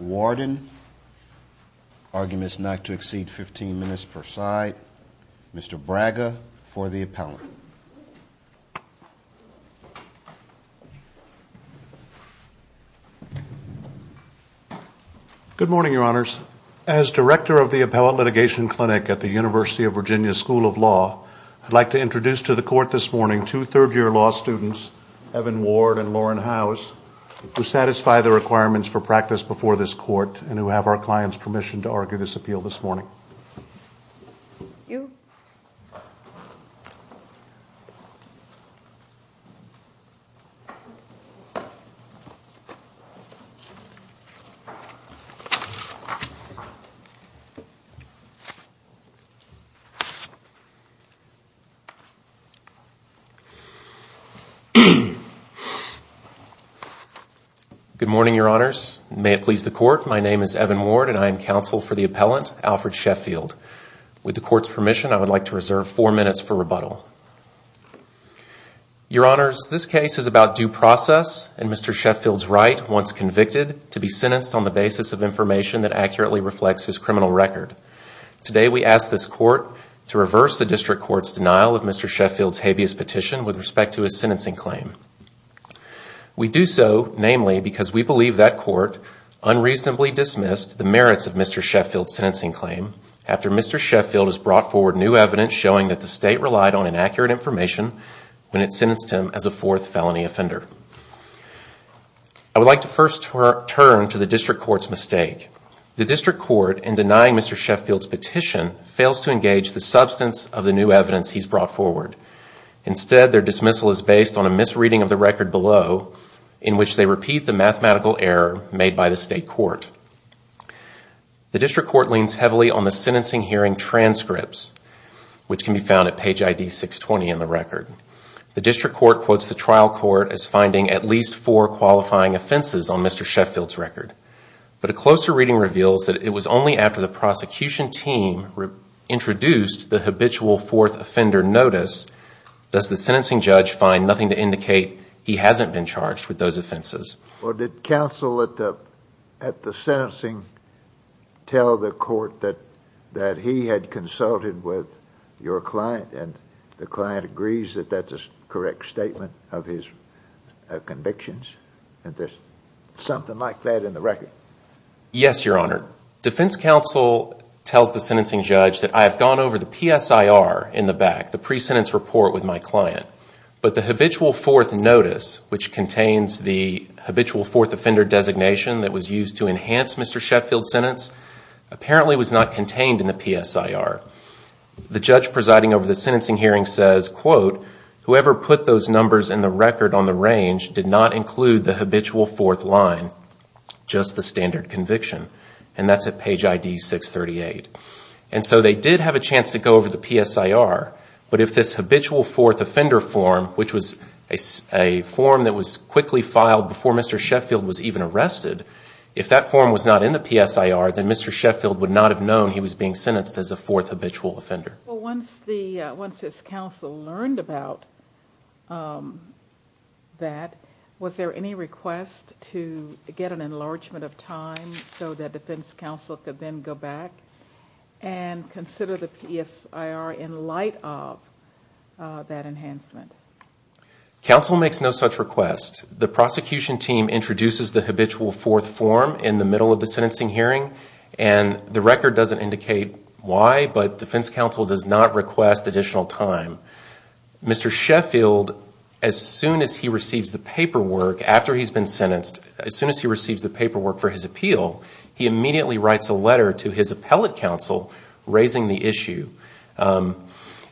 Warden. Arguments not to exceed 15 minutes per side. Mr. Braga for the appellate. Good morning, your honors. As director of the Appellate Litigation Clinic at the University of Virginia School of Law, I'd like to introduce to the court this morning two third-year law students, Evan Ward and Lauren Howes, who satisfy the requirements for practice before this court and who have our client's permission to argue this appeal this morning. Good morning, your honors. May it please the court, my name is Evan Ward and I am counsel for the appellate, Alfred Sheffield. With the court's permission, I would like to reserve four minutes for rebuttal. Your honors, this case is about due process and Mr. Sheffield's right, once convicted, to be sentenced on the basis of information that accurately reflects his criminal record. Today, we ask this court to reverse the district court's denial of Mr. Sheffield's habeas petition with respect to his sentencing claim. We do so, namely, because we believe that court unreasonably dismissed the merits of Mr. Sheffield's sentencing claim after Mr. Sheffield has brought forward new evidence showing that the state relied on inaccurate information when it sentenced him as a fourth felony offender. I would like to first turn to the district court's mistake. The district court, in denying Mr. Sheffield's petition, fails to engage the substance of the new evidence he's brought forward. Instead, their dismissal is based on a misreading of the record below in which they repeat the mathematical error made by the state court. The district court leans heavily on the sentencing hearing transcripts, which can be found at page ID 620 in the record. The district court quotes the trial court as finding at least four qualifying offenses on Mr. Sheffield's record, but a closer reading reveals that it was only after the prosecution team introduced the habitual fourth offender notice does the sentencing judge find nothing to indicate he hasn't been charged with those offenses. Well, did counsel at the sentencing tell the court that he had consulted with your client and the client agrees that that's a correct statement of his convictions? Is there something like that in the record? Yes, Your Honor. Defense counsel tells the sentencing judge that I have gone over the habitual fourth notice, which contains the habitual fourth offender designation that was used to enhance Mr. Sheffield's sentence, apparently was not contained in the PSIR. The judge presiding over the sentencing hearing says, quote, whoever put those numbers in the record on the range did not include the habitual fourth line, just the standard conviction. And that's at page ID 638. And so they did have a chance to go over the PSIR, but if this habitual fourth offender form, which was a form that was quickly filed before Mr. Sheffield was even arrested, if that form was not in the PSIR, then Mr. Sheffield would not have known he was being sentenced as a fourth habitual offender. Well, once his counsel learned about that, was there any request to get an enlargement of time so that defense counsel could then go back and consider the PSIR in light of that enhancement? Counsel makes no such request. The prosecution team introduces the habitual fourth form in the middle of the sentencing hearing and the record doesn't indicate why, but defense counsel does not request additional time. Mr. Sheffield, as soon as he receives the paperwork after he's been sentenced, as soon as he receives the paperwork for his appeal, he immediately writes a letter to his appellate counsel raising the issue.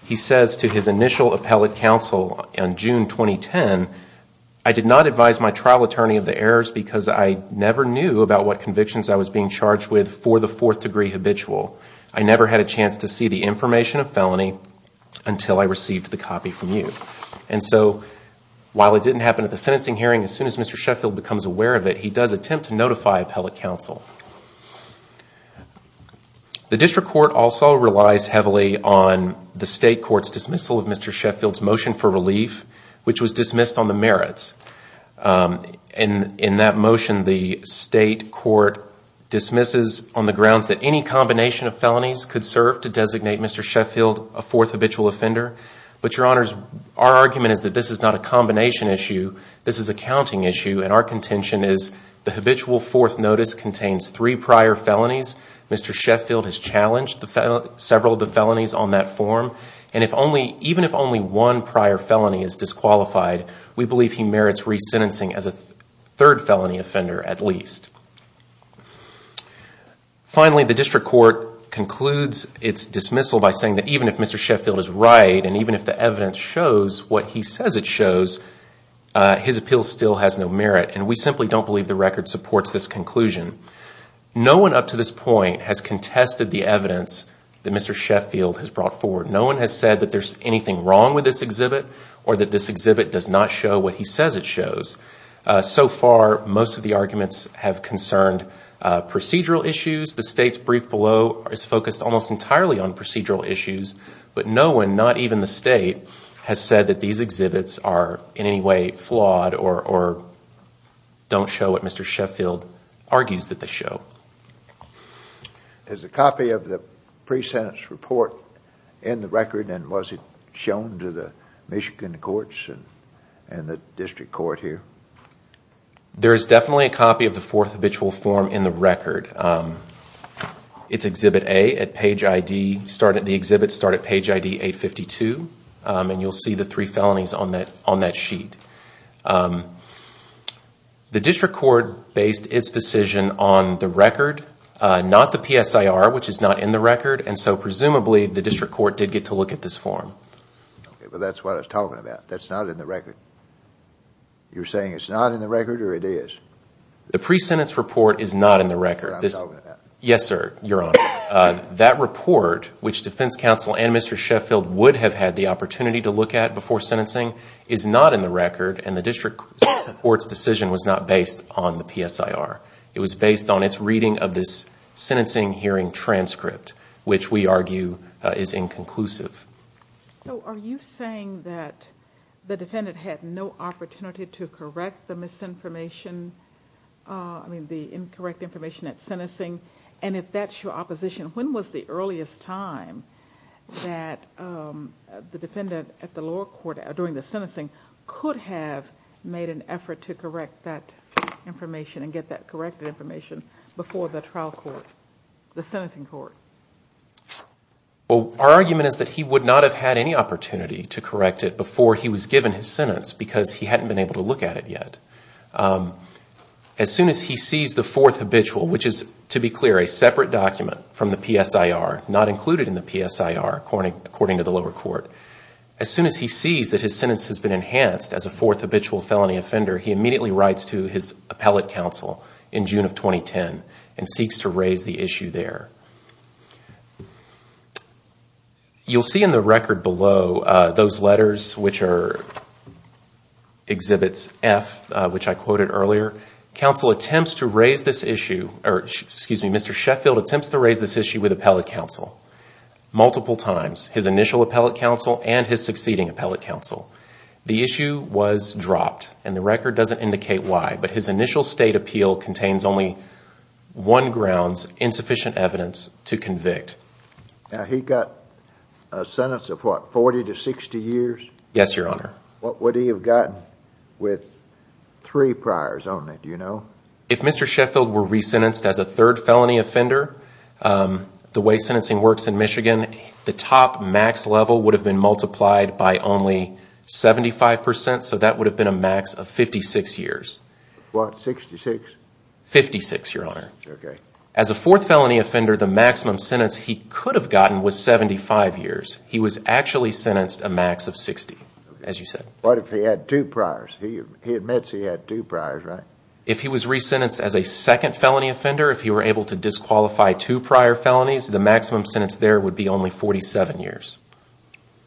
He says to his initial appellate counsel in June 2010, I did not advise my trial attorney of the errors because I never knew about what convictions I was being charged with for the fourth degree habitual. I never had a chance to see the information of felony until I received the copy from you. And so while it didn't happen at the sentencing hearing, as soon as Mr. Sheffield becomes aware of it, he does attempt to notify appellate counsel. The district court also relies heavily on the state court's dismissal of Mr. Sheffield's motion for relief, which was dismissed on the merits. In that motion, the state court dismisses on the grounds that any combination of felonies could serve to designate Mr. Sheffield a fourth habitual offender. But your honors, our argument is that this is not a combination issue. This is a counting issue and our contention is the habitual fourth notice contains the three prior felonies. Mr. Sheffield has challenged several of the felonies on that form and even if only one prior felony is disqualified, we believe he merits resentencing as a third felony offender at least. Finally, the district court concludes its dismissal by saying that even if Mr. Sheffield is right and even if the evidence shows what he says it shows, his appeal still has no conclusion. No one up to this point has contested the evidence that Mr. Sheffield has brought forward. No one has said that there's anything wrong with this exhibit or that this exhibit does not show what he says it shows. So far, most of the arguments have concerned procedural issues. The state's brief below is focused almost entirely on procedural issues, but no one, not even the state, has said that these exhibits are in any way flawed or don't show what Mr. Sheffield argues that they show. Is a copy of the pre-sentence report in the record and was it shown to the Michigan courts and the district court here? There is definitely a copy of the fourth habitual form in the record. It's exhibit A at page ID, the exhibits start at page ID 852 and you'll see the three felonies on that sheet. The district court based its decision on the record, not the PSIR, which is not in the record, and so presumably the district court did get to look at this form. Okay, but that's what I was talking about. That's not in the record. You're saying it's not in the record or it is? The pre-sentence report is not in the record. That's what I'm talking about. Yes, sir, your honor. That report, which defense counsel and Mr. Sheffield would have had the opportunity to look at before sentencing, is not in the record and the district court's decision was not based on the PSIR. It was based on its reading of this sentencing hearing transcript, which we argue is inconclusive. Are you saying that the defendant had no opportunity to correct the misinformation, the incorrect information at sentencing, and if that's your opposition, when was the earliest time that the defendant at the lower court during the sentencing could have made an effort to correct that information and get that corrected information before the trial court, the sentencing court? Well, our argument is that he would not have had any opportunity to correct it before he was given his sentence because he hadn't been able to look at it yet. As soon as he sees the fourth habitual, which is, to be clear, a separate document from the PSIR, not included in the PSIR, according to the lower court, as soon as he sees that his sentence has been enhanced as a fourth habitual felony offender, he immediately writes to his appellate counsel in June of 2010 and seeks to raise the issue there. You'll see in the record below those letters, which are exhibits F, which I quoted earlier. Mr. Sheffield attempts to raise this issue with appellate counsel multiple times, his initial appellate counsel and his succeeding appellate counsel. The issue was dropped and the record doesn't indicate why, but his initial state appeal contains only one grounds, insufficient evidence to convict. He got a sentence of what, 40 to 60 years? Yes, Your Honor. What would he have gotten with three priors only, do you know? If Mr. Sheffield were re-sentenced as a third felony offender, the way sentencing works in Michigan, the top max level would have been multiplied by only 75%, so that would have been a max of 56 years. What? 66? 56, Your Honor. Okay. As a fourth felony offender, the maximum sentence he could have gotten was 75 years. He was actually sentenced a max of 60, as you said. What if he had two priors? He admits he had two priors, right? If he was re-sentenced as a second felony offender, if he were able to disqualify two prior felonies, the maximum sentence there would be only 47 years.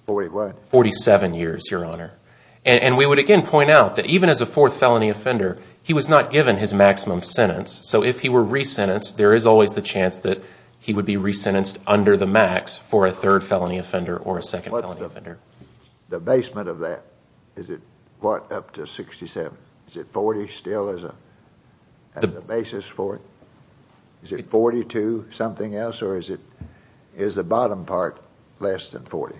What? 47 years, Your Honor. And we would again point out that even as a fourth felony offender, he was not given his maximum sentence. So if he were re-sentenced, there is always the chance that he would be re-sentenced under the max for a third felony offender or a second felony offender. The basement of that, is it what, up to 67? Is it 40 still as a basis for it? Is it 42 something else, or is the bottom part less than 40?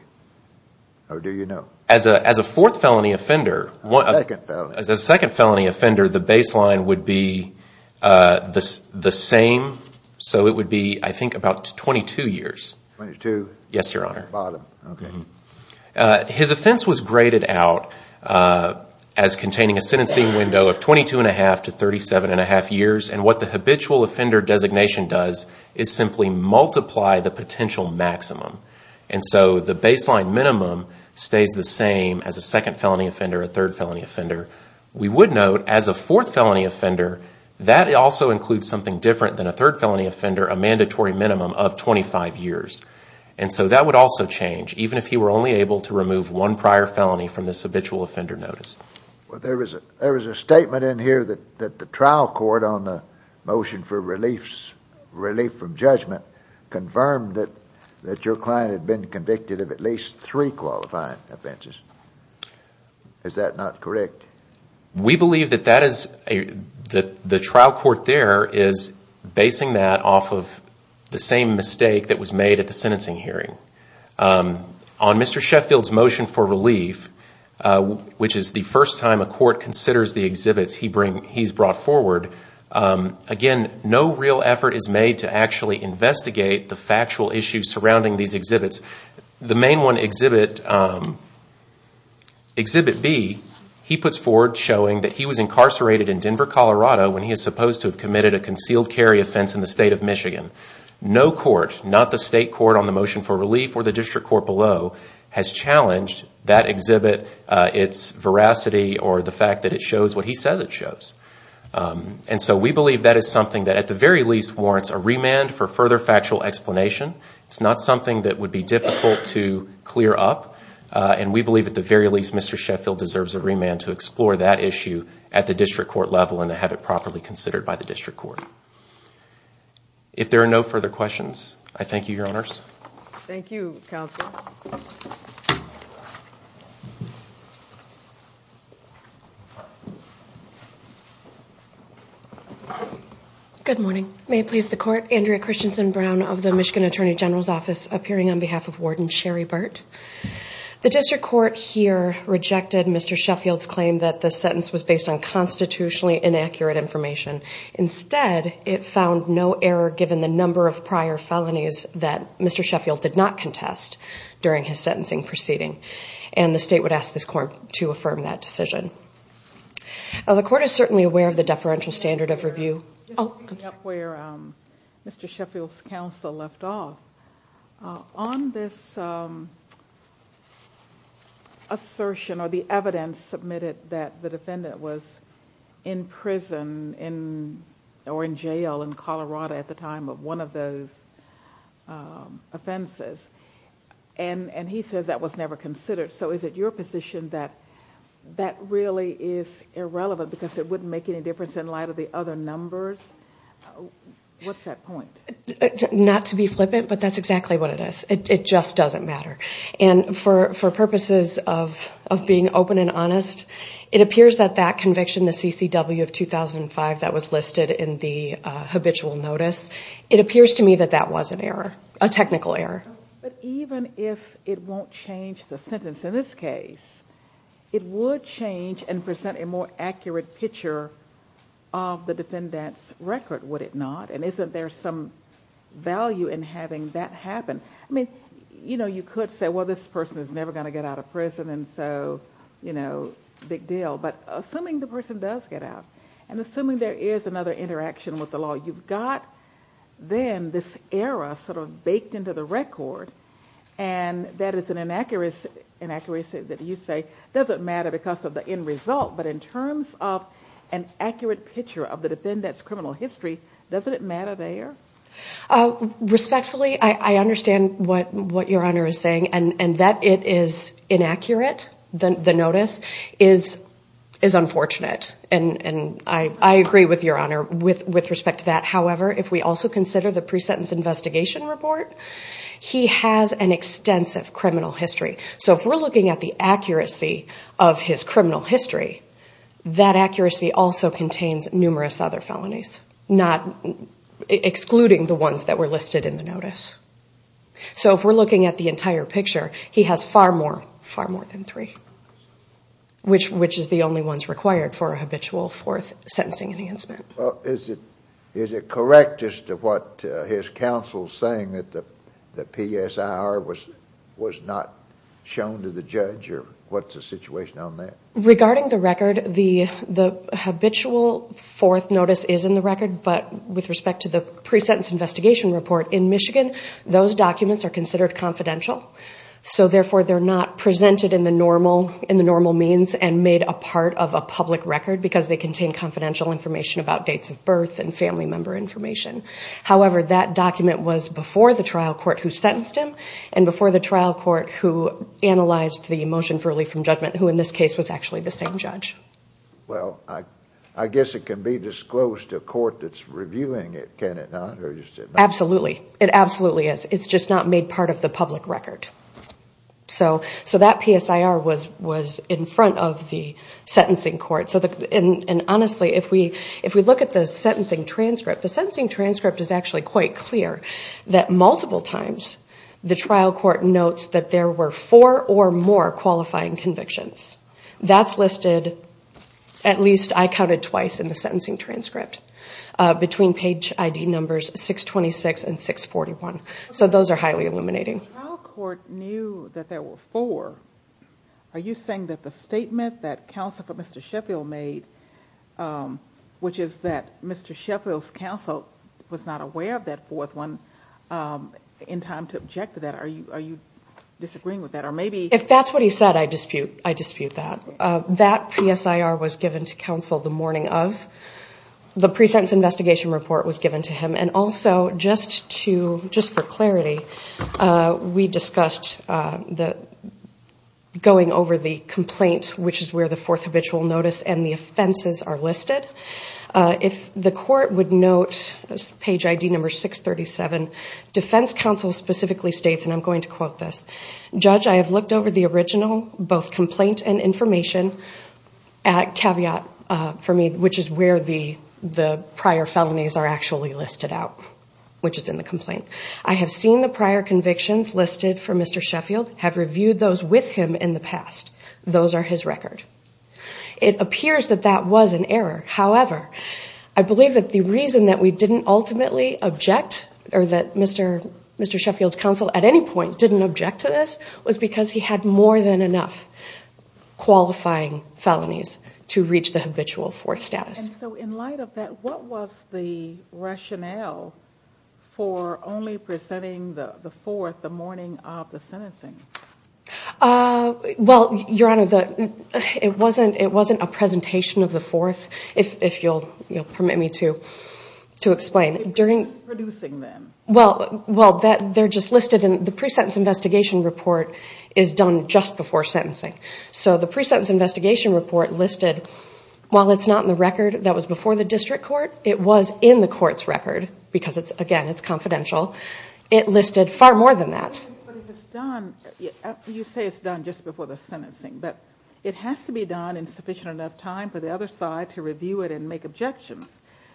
Or do you know? As a fourth felony offender, as a second felony offender, the baseline would be the same, so it would be, I think, about 22 years. 22? Yes, Your Honor. Bottom, okay. His offense was graded out as containing a sentencing window of 22 and a half to 37 and a half years. And what the habitual offender designation does is simply multiply the potential maximum. And so the baseline minimum stays the same as a second felony offender, a third felony offender. We would note, as a fourth felony offender, that also includes something different than a third felony offender, a mandatory minimum of 25 years. And so that would also change, even if he were only able to remove one prior felony from this habitual offender notice. There was a statement in here that the trial court on the motion for relief from judgment confirmed that your client had been convicted of at least three qualified offenses. Is that not correct? We believe that the trial court there is basing that off of the same mistake that was made at the sentencing hearing. On Mr. Sheffield's motion for relief, which is the first time a court considers the exhibits he's brought forward, again, no real effort is made to actually investigate the factual issue surrounding these exhibits. The main one, Exhibit B, he puts forward showing that he was incarcerated in Denver, Colorado when he is supposed to have committed a concealed carry offense in the state of Michigan. No court, not the state court on the motion for relief or the district court below, has challenged that exhibit, its veracity, or the fact that it shows what he says it shows. And so we believe that is something that, at the very least, warrants a remand for further factual explanation. It's not something that would be difficult to clear up. And we believe, at the very least, Mr. Sheffield deserves a remand to explore that issue at the district court level and to have it properly considered by the district court. If there are no further questions, I thank you, Your Honors. Thank you, Counsel. Good morning. May it please the court. Andrea Christensen Brown of the Michigan Attorney General's Office, appearing on behalf of Warden Sherry Burt. The district court here rejected Mr. Sheffield's claim that the sentence was based on constitutionally inaccurate information. Instead, it found no error given the number of prior felonies that Mr. Sheffield did not contest during his sentencing proceeding. And the state would ask this court to affirm that decision. The court is certainly aware of the deferential standard of review. Just picking up where Mr. Sheffield's counsel left off, on this assertion or the evidence submitted that the defendant was in prison or in jail in Colorado at the time of one of those offenses, and he says that was never considered, so is it your position that that really is irrelevant because it wouldn't make any difference in light of the other numbers? What's that point? Not to be flippant, but that's exactly what it is. It just doesn't matter. And for purposes of being open and honest, it appears that that conviction, the CCW of 2005 that was listed in the habitual notice, it appears to me that that was an error, a technical error. But even if it won't change the sentence in this case, it would change and present a more accurate picture of the defendant's record, would it not? And isn't there some value in having that happen? I mean, you know, you could say, well, this person is never going to get out of prison, and so, you know, big deal. But assuming the person does get out, and assuming there is another interaction with the law, you've got then this error sort of baked into the record, and that is an inaccuracy that you say doesn't matter because of the end result, but in terms of an accurate picture of the defendant's criminal history, doesn't it matter there? Respectfully, I understand what Your Honor is saying, and that it is inaccurate, the fact that, however, if we also consider the pre-sentence investigation report, he has an extensive criminal history. So if we're looking at the accuracy of his criminal history, that accuracy also contains numerous other felonies, excluding the ones that were listed in the notice. So if we're looking at the entire picture, he has far more, far more than three, which is the only ones required for a habitual fourth sentencing enhancement. Well, is it correct as to what his counsel is saying, that the PSIR was not shown to the judge, or what's the situation on that? Regarding the record, the habitual fourth notice is in the record, but with respect to the pre-sentence investigation report in Michigan, those documents are considered confidential. So therefore, they're not presented in the normal means and made a part of a public record because they contain confidential information about dates of birth and family member information. However, that document was before the trial court who sentenced him, and before the trial court who analyzed the motion for relief from judgment, who in this case was actually the same judge. Well, I guess it can be disclosed to a court that's reviewing it, can it not? Absolutely. It absolutely is. It's just not made part of the public record. So that PSIR was in front of the sentencing court. And honestly, if we look at the sentencing transcript, the sentencing transcript is actually quite clear, that multiple times the trial court notes that there were four or more qualifying convictions. That's listed, at least I counted twice in the sentencing transcript, between page ID numbers 626 and 641. So those are highly illuminating. If the trial court knew that there were four, are you saying that the statement that counsel for Mr. Sheffield made, which is that Mr. Sheffield's counsel was not aware of that fourth one, in time to object to that, are you disagreeing with that? Or maybe- If that's what he said, I dispute that. That PSIR was given to counsel the morning of. The pre-sentence investigation report was given to him. And also, just for clarity, we discussed going over the complaint, which is where the fourth habitual notice and the offenses are listed. If the court would note, page ID number 637, defense counsel specifically states, and I'm going to quote this, judge, I have looked over the original, both complaint and information, at caveat for me, which is where the prior felonies are actually listed out, which is in the complaint. I have seen the prior convictions listed for Mr. Sheffield, have reviewed those with him in the past. Those are his record. It appears that that was an error. However, I believe that the reason that we didn't ultimately object, or that Mr. Sheffield's at any point didn't object to this, was because he had more than enough qualifying felonies to reach the habitual fourth status. And so, in light of that, what was the rationale for only presenting the fourth the morning of the sentencing? Well, Your Honor, it wasn't a presentation of the fourth, if you'll permit me to explain. It was producing then. Well, they're just listed in the pre-sentence investigation report is done just before sentencing. So the pre-sentence investigation report listed, while it's not in the record that was before the district court, it was in the court's record, because again, it's confidential. It listed far more than that. But if it's done, you say it's done just before the sentencing, but it has to be done in sufficient enough time for the other side to review it and make objections.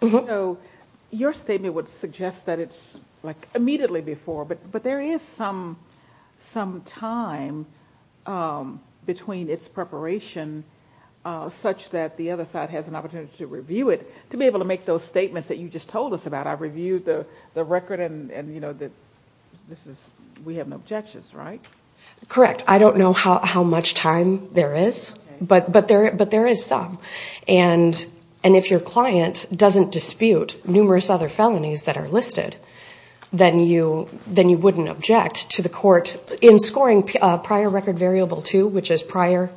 So your statement would suggest that it's like immediately before, but there is some time between its preparation such that the other side has an opportunity to review it to be able to make those statements that you just told us about. I reviewed the record and we have no objections, right? Correct. I don't know how much time there is, but there is some. And if your client doesn't dispute numerous other felonies that are listed, then you wouldn't object to the court. In scoring prior record variable two, which is prior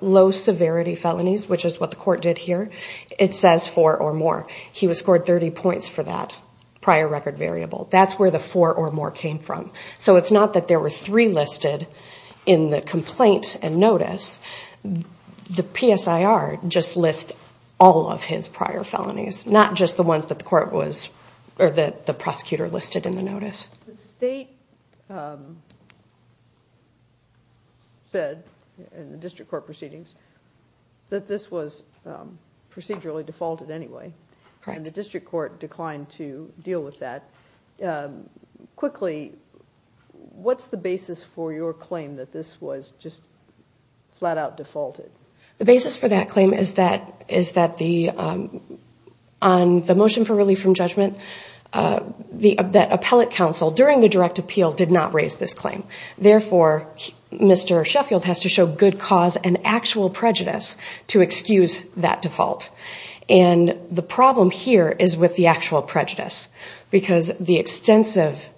low severity felonies, which is what the court did here, it says four or more. He was scored 30 points for that prior record variable. That's where the four or more came from. So it's not that there were three listed in the complaint and notice. The PSIR just lists all of his prior felonies, not just the ones that the prosecutor listed in the notice. The state said in the district court proceedings that this was procedurally defaulted anyway, and the district court declined to deal with that. Quickly, what's the basis for your claim that this was just flat out defaulted? The basis for that claim is that on the motion for relief from judgment, that appellate counsel during the direct appeal did not raise this claim. Therefore, Mr. Sheffield has to show good cause and actual prejudice to excuse that default. And the problem here is with the actual prejudice, because the extensive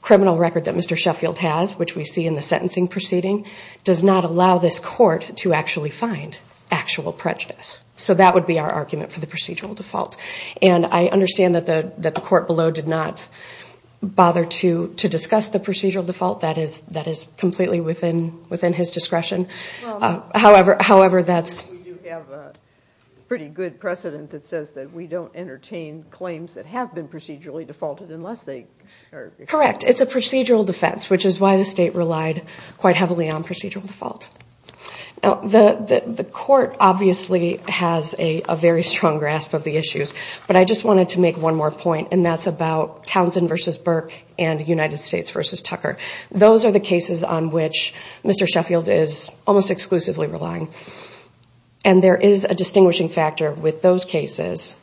criminal record that Mr. Sheffield has, which we see in the sentencing proceeding, does not allow this court to actually find actual prejudice. So that would be our argument for the procedural default. And I understand that the court below did not bother to discuss the procedural default. That is completely within his discretion. We do have a pretty good precedent that says that we don't entertain claims that have been procedurally defaulted. Correct. It's a procedural defense, which is why the state relied quite heavily on procedural default. The court obviously has a very strong grasp of the issues, but I just wanted to make one more point, and that's about Townsend v. Burke and United States v. Tucker. Those are the cases on which Mr. Sheffield is almost exclusively relying. And there is a distinguishing factor with those cases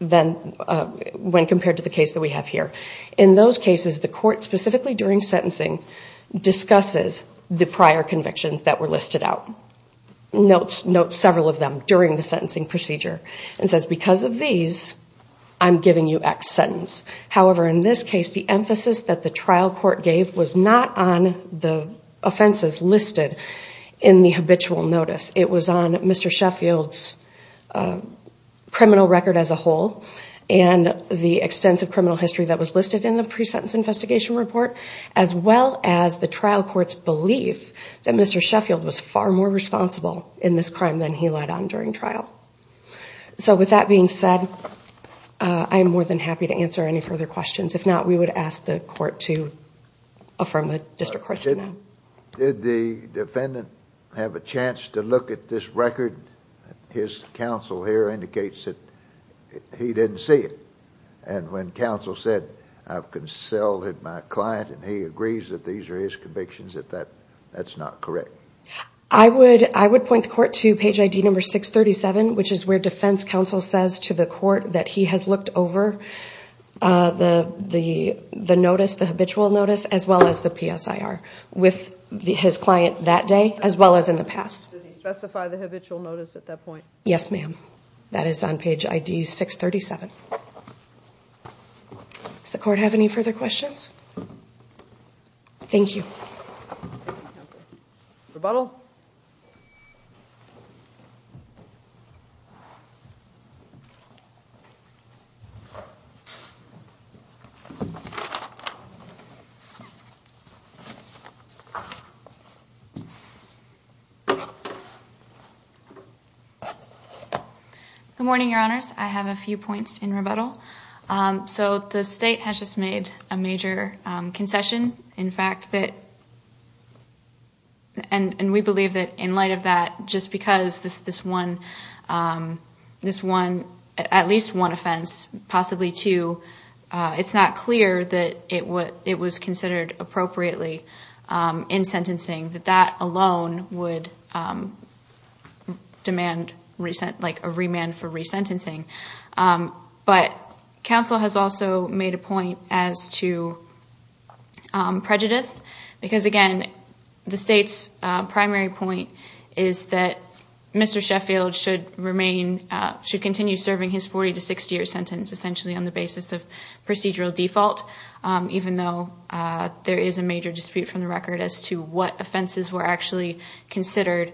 when compared to the case that we have here. In those cases, the court, specifically during sentencing, discusses the prior convictions that were listed out, notes several of them during the sentencing procedure, and says, because of these, I'm giving you X sentence. However, in this case, the emphasis that the trial court gave was not on the offenses listed in the habitual notice. It was on Mr. Sheffield's criminal record as a whole and the extensive criminal history that was listed in the pre-sentence investigation report, as well as the trial court's belief that Mr. Sheffield was far more responsible in this crime than he lied on during trial. So, with that being said, I'm more than happy to answer any further questions. If not, we would ask the court to affirm the district court's denial. Did the defendant have a chance to look at this record? His counsel here indicates that he didn't see it. And when counsel said, I've consoled my client and he agrees that these are his convictions, that's not correct. I would point the court to page ID number 637, which is where defense counsel says to the court that he has looked over the notice, the habitual notice, as well as the PSIR with his client that day, as well as in the past. Does he specify the habitual notice at that point? Yes, ma'am. That is on page ID 637. Does the court have any further questions? Thank you. Thank you, counsel. Rebuttal? Good morning, your honors. I have a few points in rebuttal. So the state has just made a major concession. In fact, and we believe that in light of that, just because this one, at least one offense, possibly two, it's not clear that it was considered appropriately in sentencing, that that alone would demand a remand for resentencing. But counsel has also made a point as to prejudice, because again, the state's primary point is that Mr. Sheffield should remain, should continue serving his 40 to 60 year sentence, essentially on the basis of procedural default, even though there is a major dispute from the record as to what offenses were actually considered.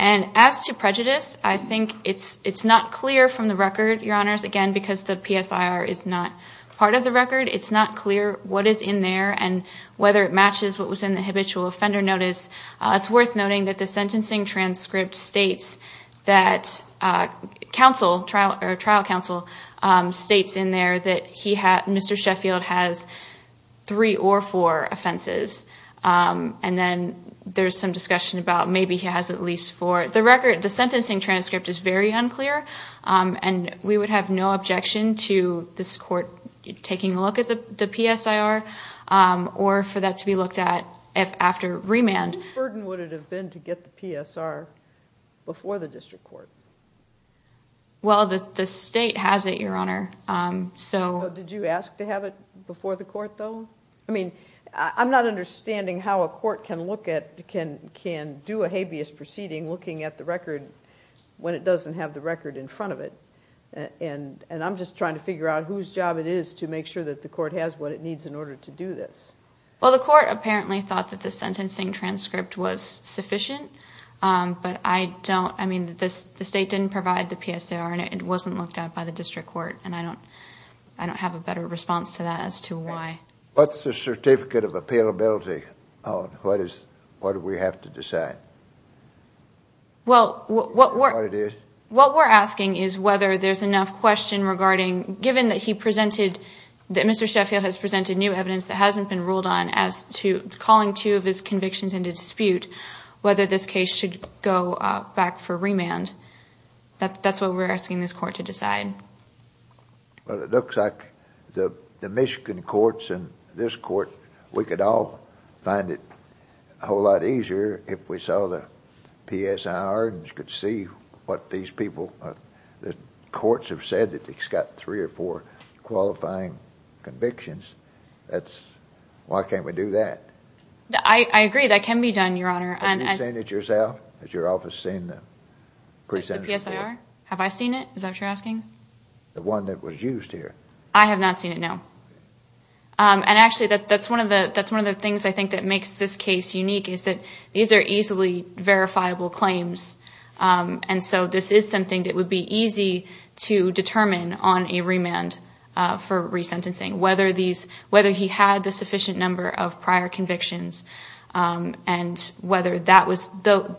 And as to prejudice, I think it's not clear from the record, your honors, again, because the PSIR is not part of the record, it's not clear what is in there and whether it matches what was in the habitual offender notice. It's worth noting that the sentencing transcript states that counsel, trial counsel, states in there that Mr. Sheffield has three or four offenses. And then there's some discussion about maybe he has at least four. The record, the sentencing transcript is very unclear and we would have no objection to this court taking a look at the PSIR or for that to be looked at after remand. What burden would it have been to get the PSR before the district court? Well, the state has it, your honor, so. So did you ask to have it before the court, though? I mean, I'm not understanding how a court can look at, can do a habeas proceeding looking at the record when it doesn't have the record in front of it. And I'm just trying to figure out whose job it is to make sure that the court has what it needs in order to do this. Well, the court apparently thought that the sentencing transcript was sufficient, but I don't, I mean, the state didn't provide the PSIR and it wasn't looked at by the district court and I don't have a better response to that as to why. What's the certificate of appealability on what is, what do we have to decide? Well, what we're asking is whether there's enough question regarding, given that he presented, that Mr. Sheffield has presented new evidence that hasn't been ruled on as to calling two of his convictions into dispute, whether this case should go back for remand. That's what we're asking this court to decide. Well, it looks like the Michigan courts and this court, we could all find it a whole lot easier if we saw the PSIR and you could see what these people, the courts have said that he's got three or four qualifying convictions, that's, why can't we do that? I agree, that can be done, Your Honor. Have you seen it yourself? The PSIR? Have I seen it? Is that what you're asking? The one that was used here. I have not seen it, no. And actually, that's one of the things I think that makes this case unique is that these are easily verifiable claims and so this is something that would be easy to determine on a remand for resentencing, whether these, whether he had the sufficient number of prior convictions and whether that was,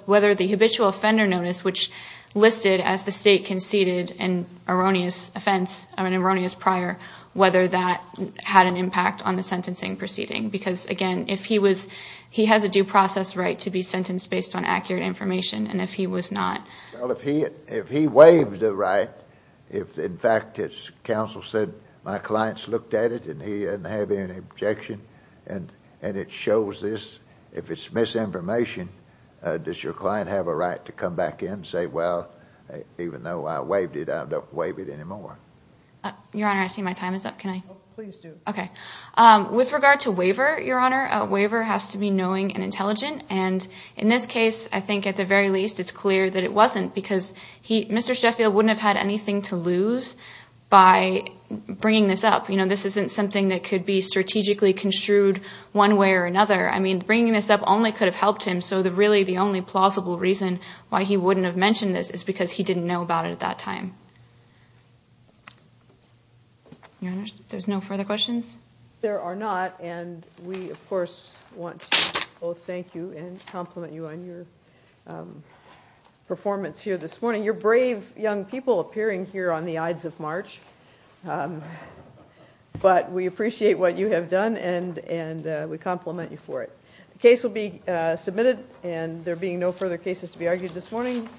whether the habitual offender notice, which listed as the state conceded an erroneous offense, an erroneous prior, whether that had an impact on the sentencing proceeding. Because again, if he was, he has a due process right to be sentenced based on accurate information and if he was not. Well, if he waives the right, if in fact his counsel said my client's looked at it and he doesn't have any objection and it shows this, if it's misinformation, does your client have a right to come back in and say, well, even though I waived it, I don't waive it anymore? Your Honor, I see my time is up. Can I? Please do. Okay. With regard to waiver, Your Honor, a waiver has to be knowing and intelligent and in this case, I think at the very least, it's clear that it wasn't because he, Mr. Sheffield wouldn't have had anything to lose by bringing this up. You know, this isn't something that could be strategically construed one way or another. I mean, bringing this up only could have helped him. So the really, the only plausible reason why he wouldn't have mentioned this is because he didn't know about it at that time. Your Honor, if there's no further questions. There are not and we, of course, want to both thank you and compliment you on your performance here this morning. You're brave young people appearing here on the Ides of March. But we appreciate what you have done and we compliment you for it. The case will be submitted and there being no further cases to be argued this morning.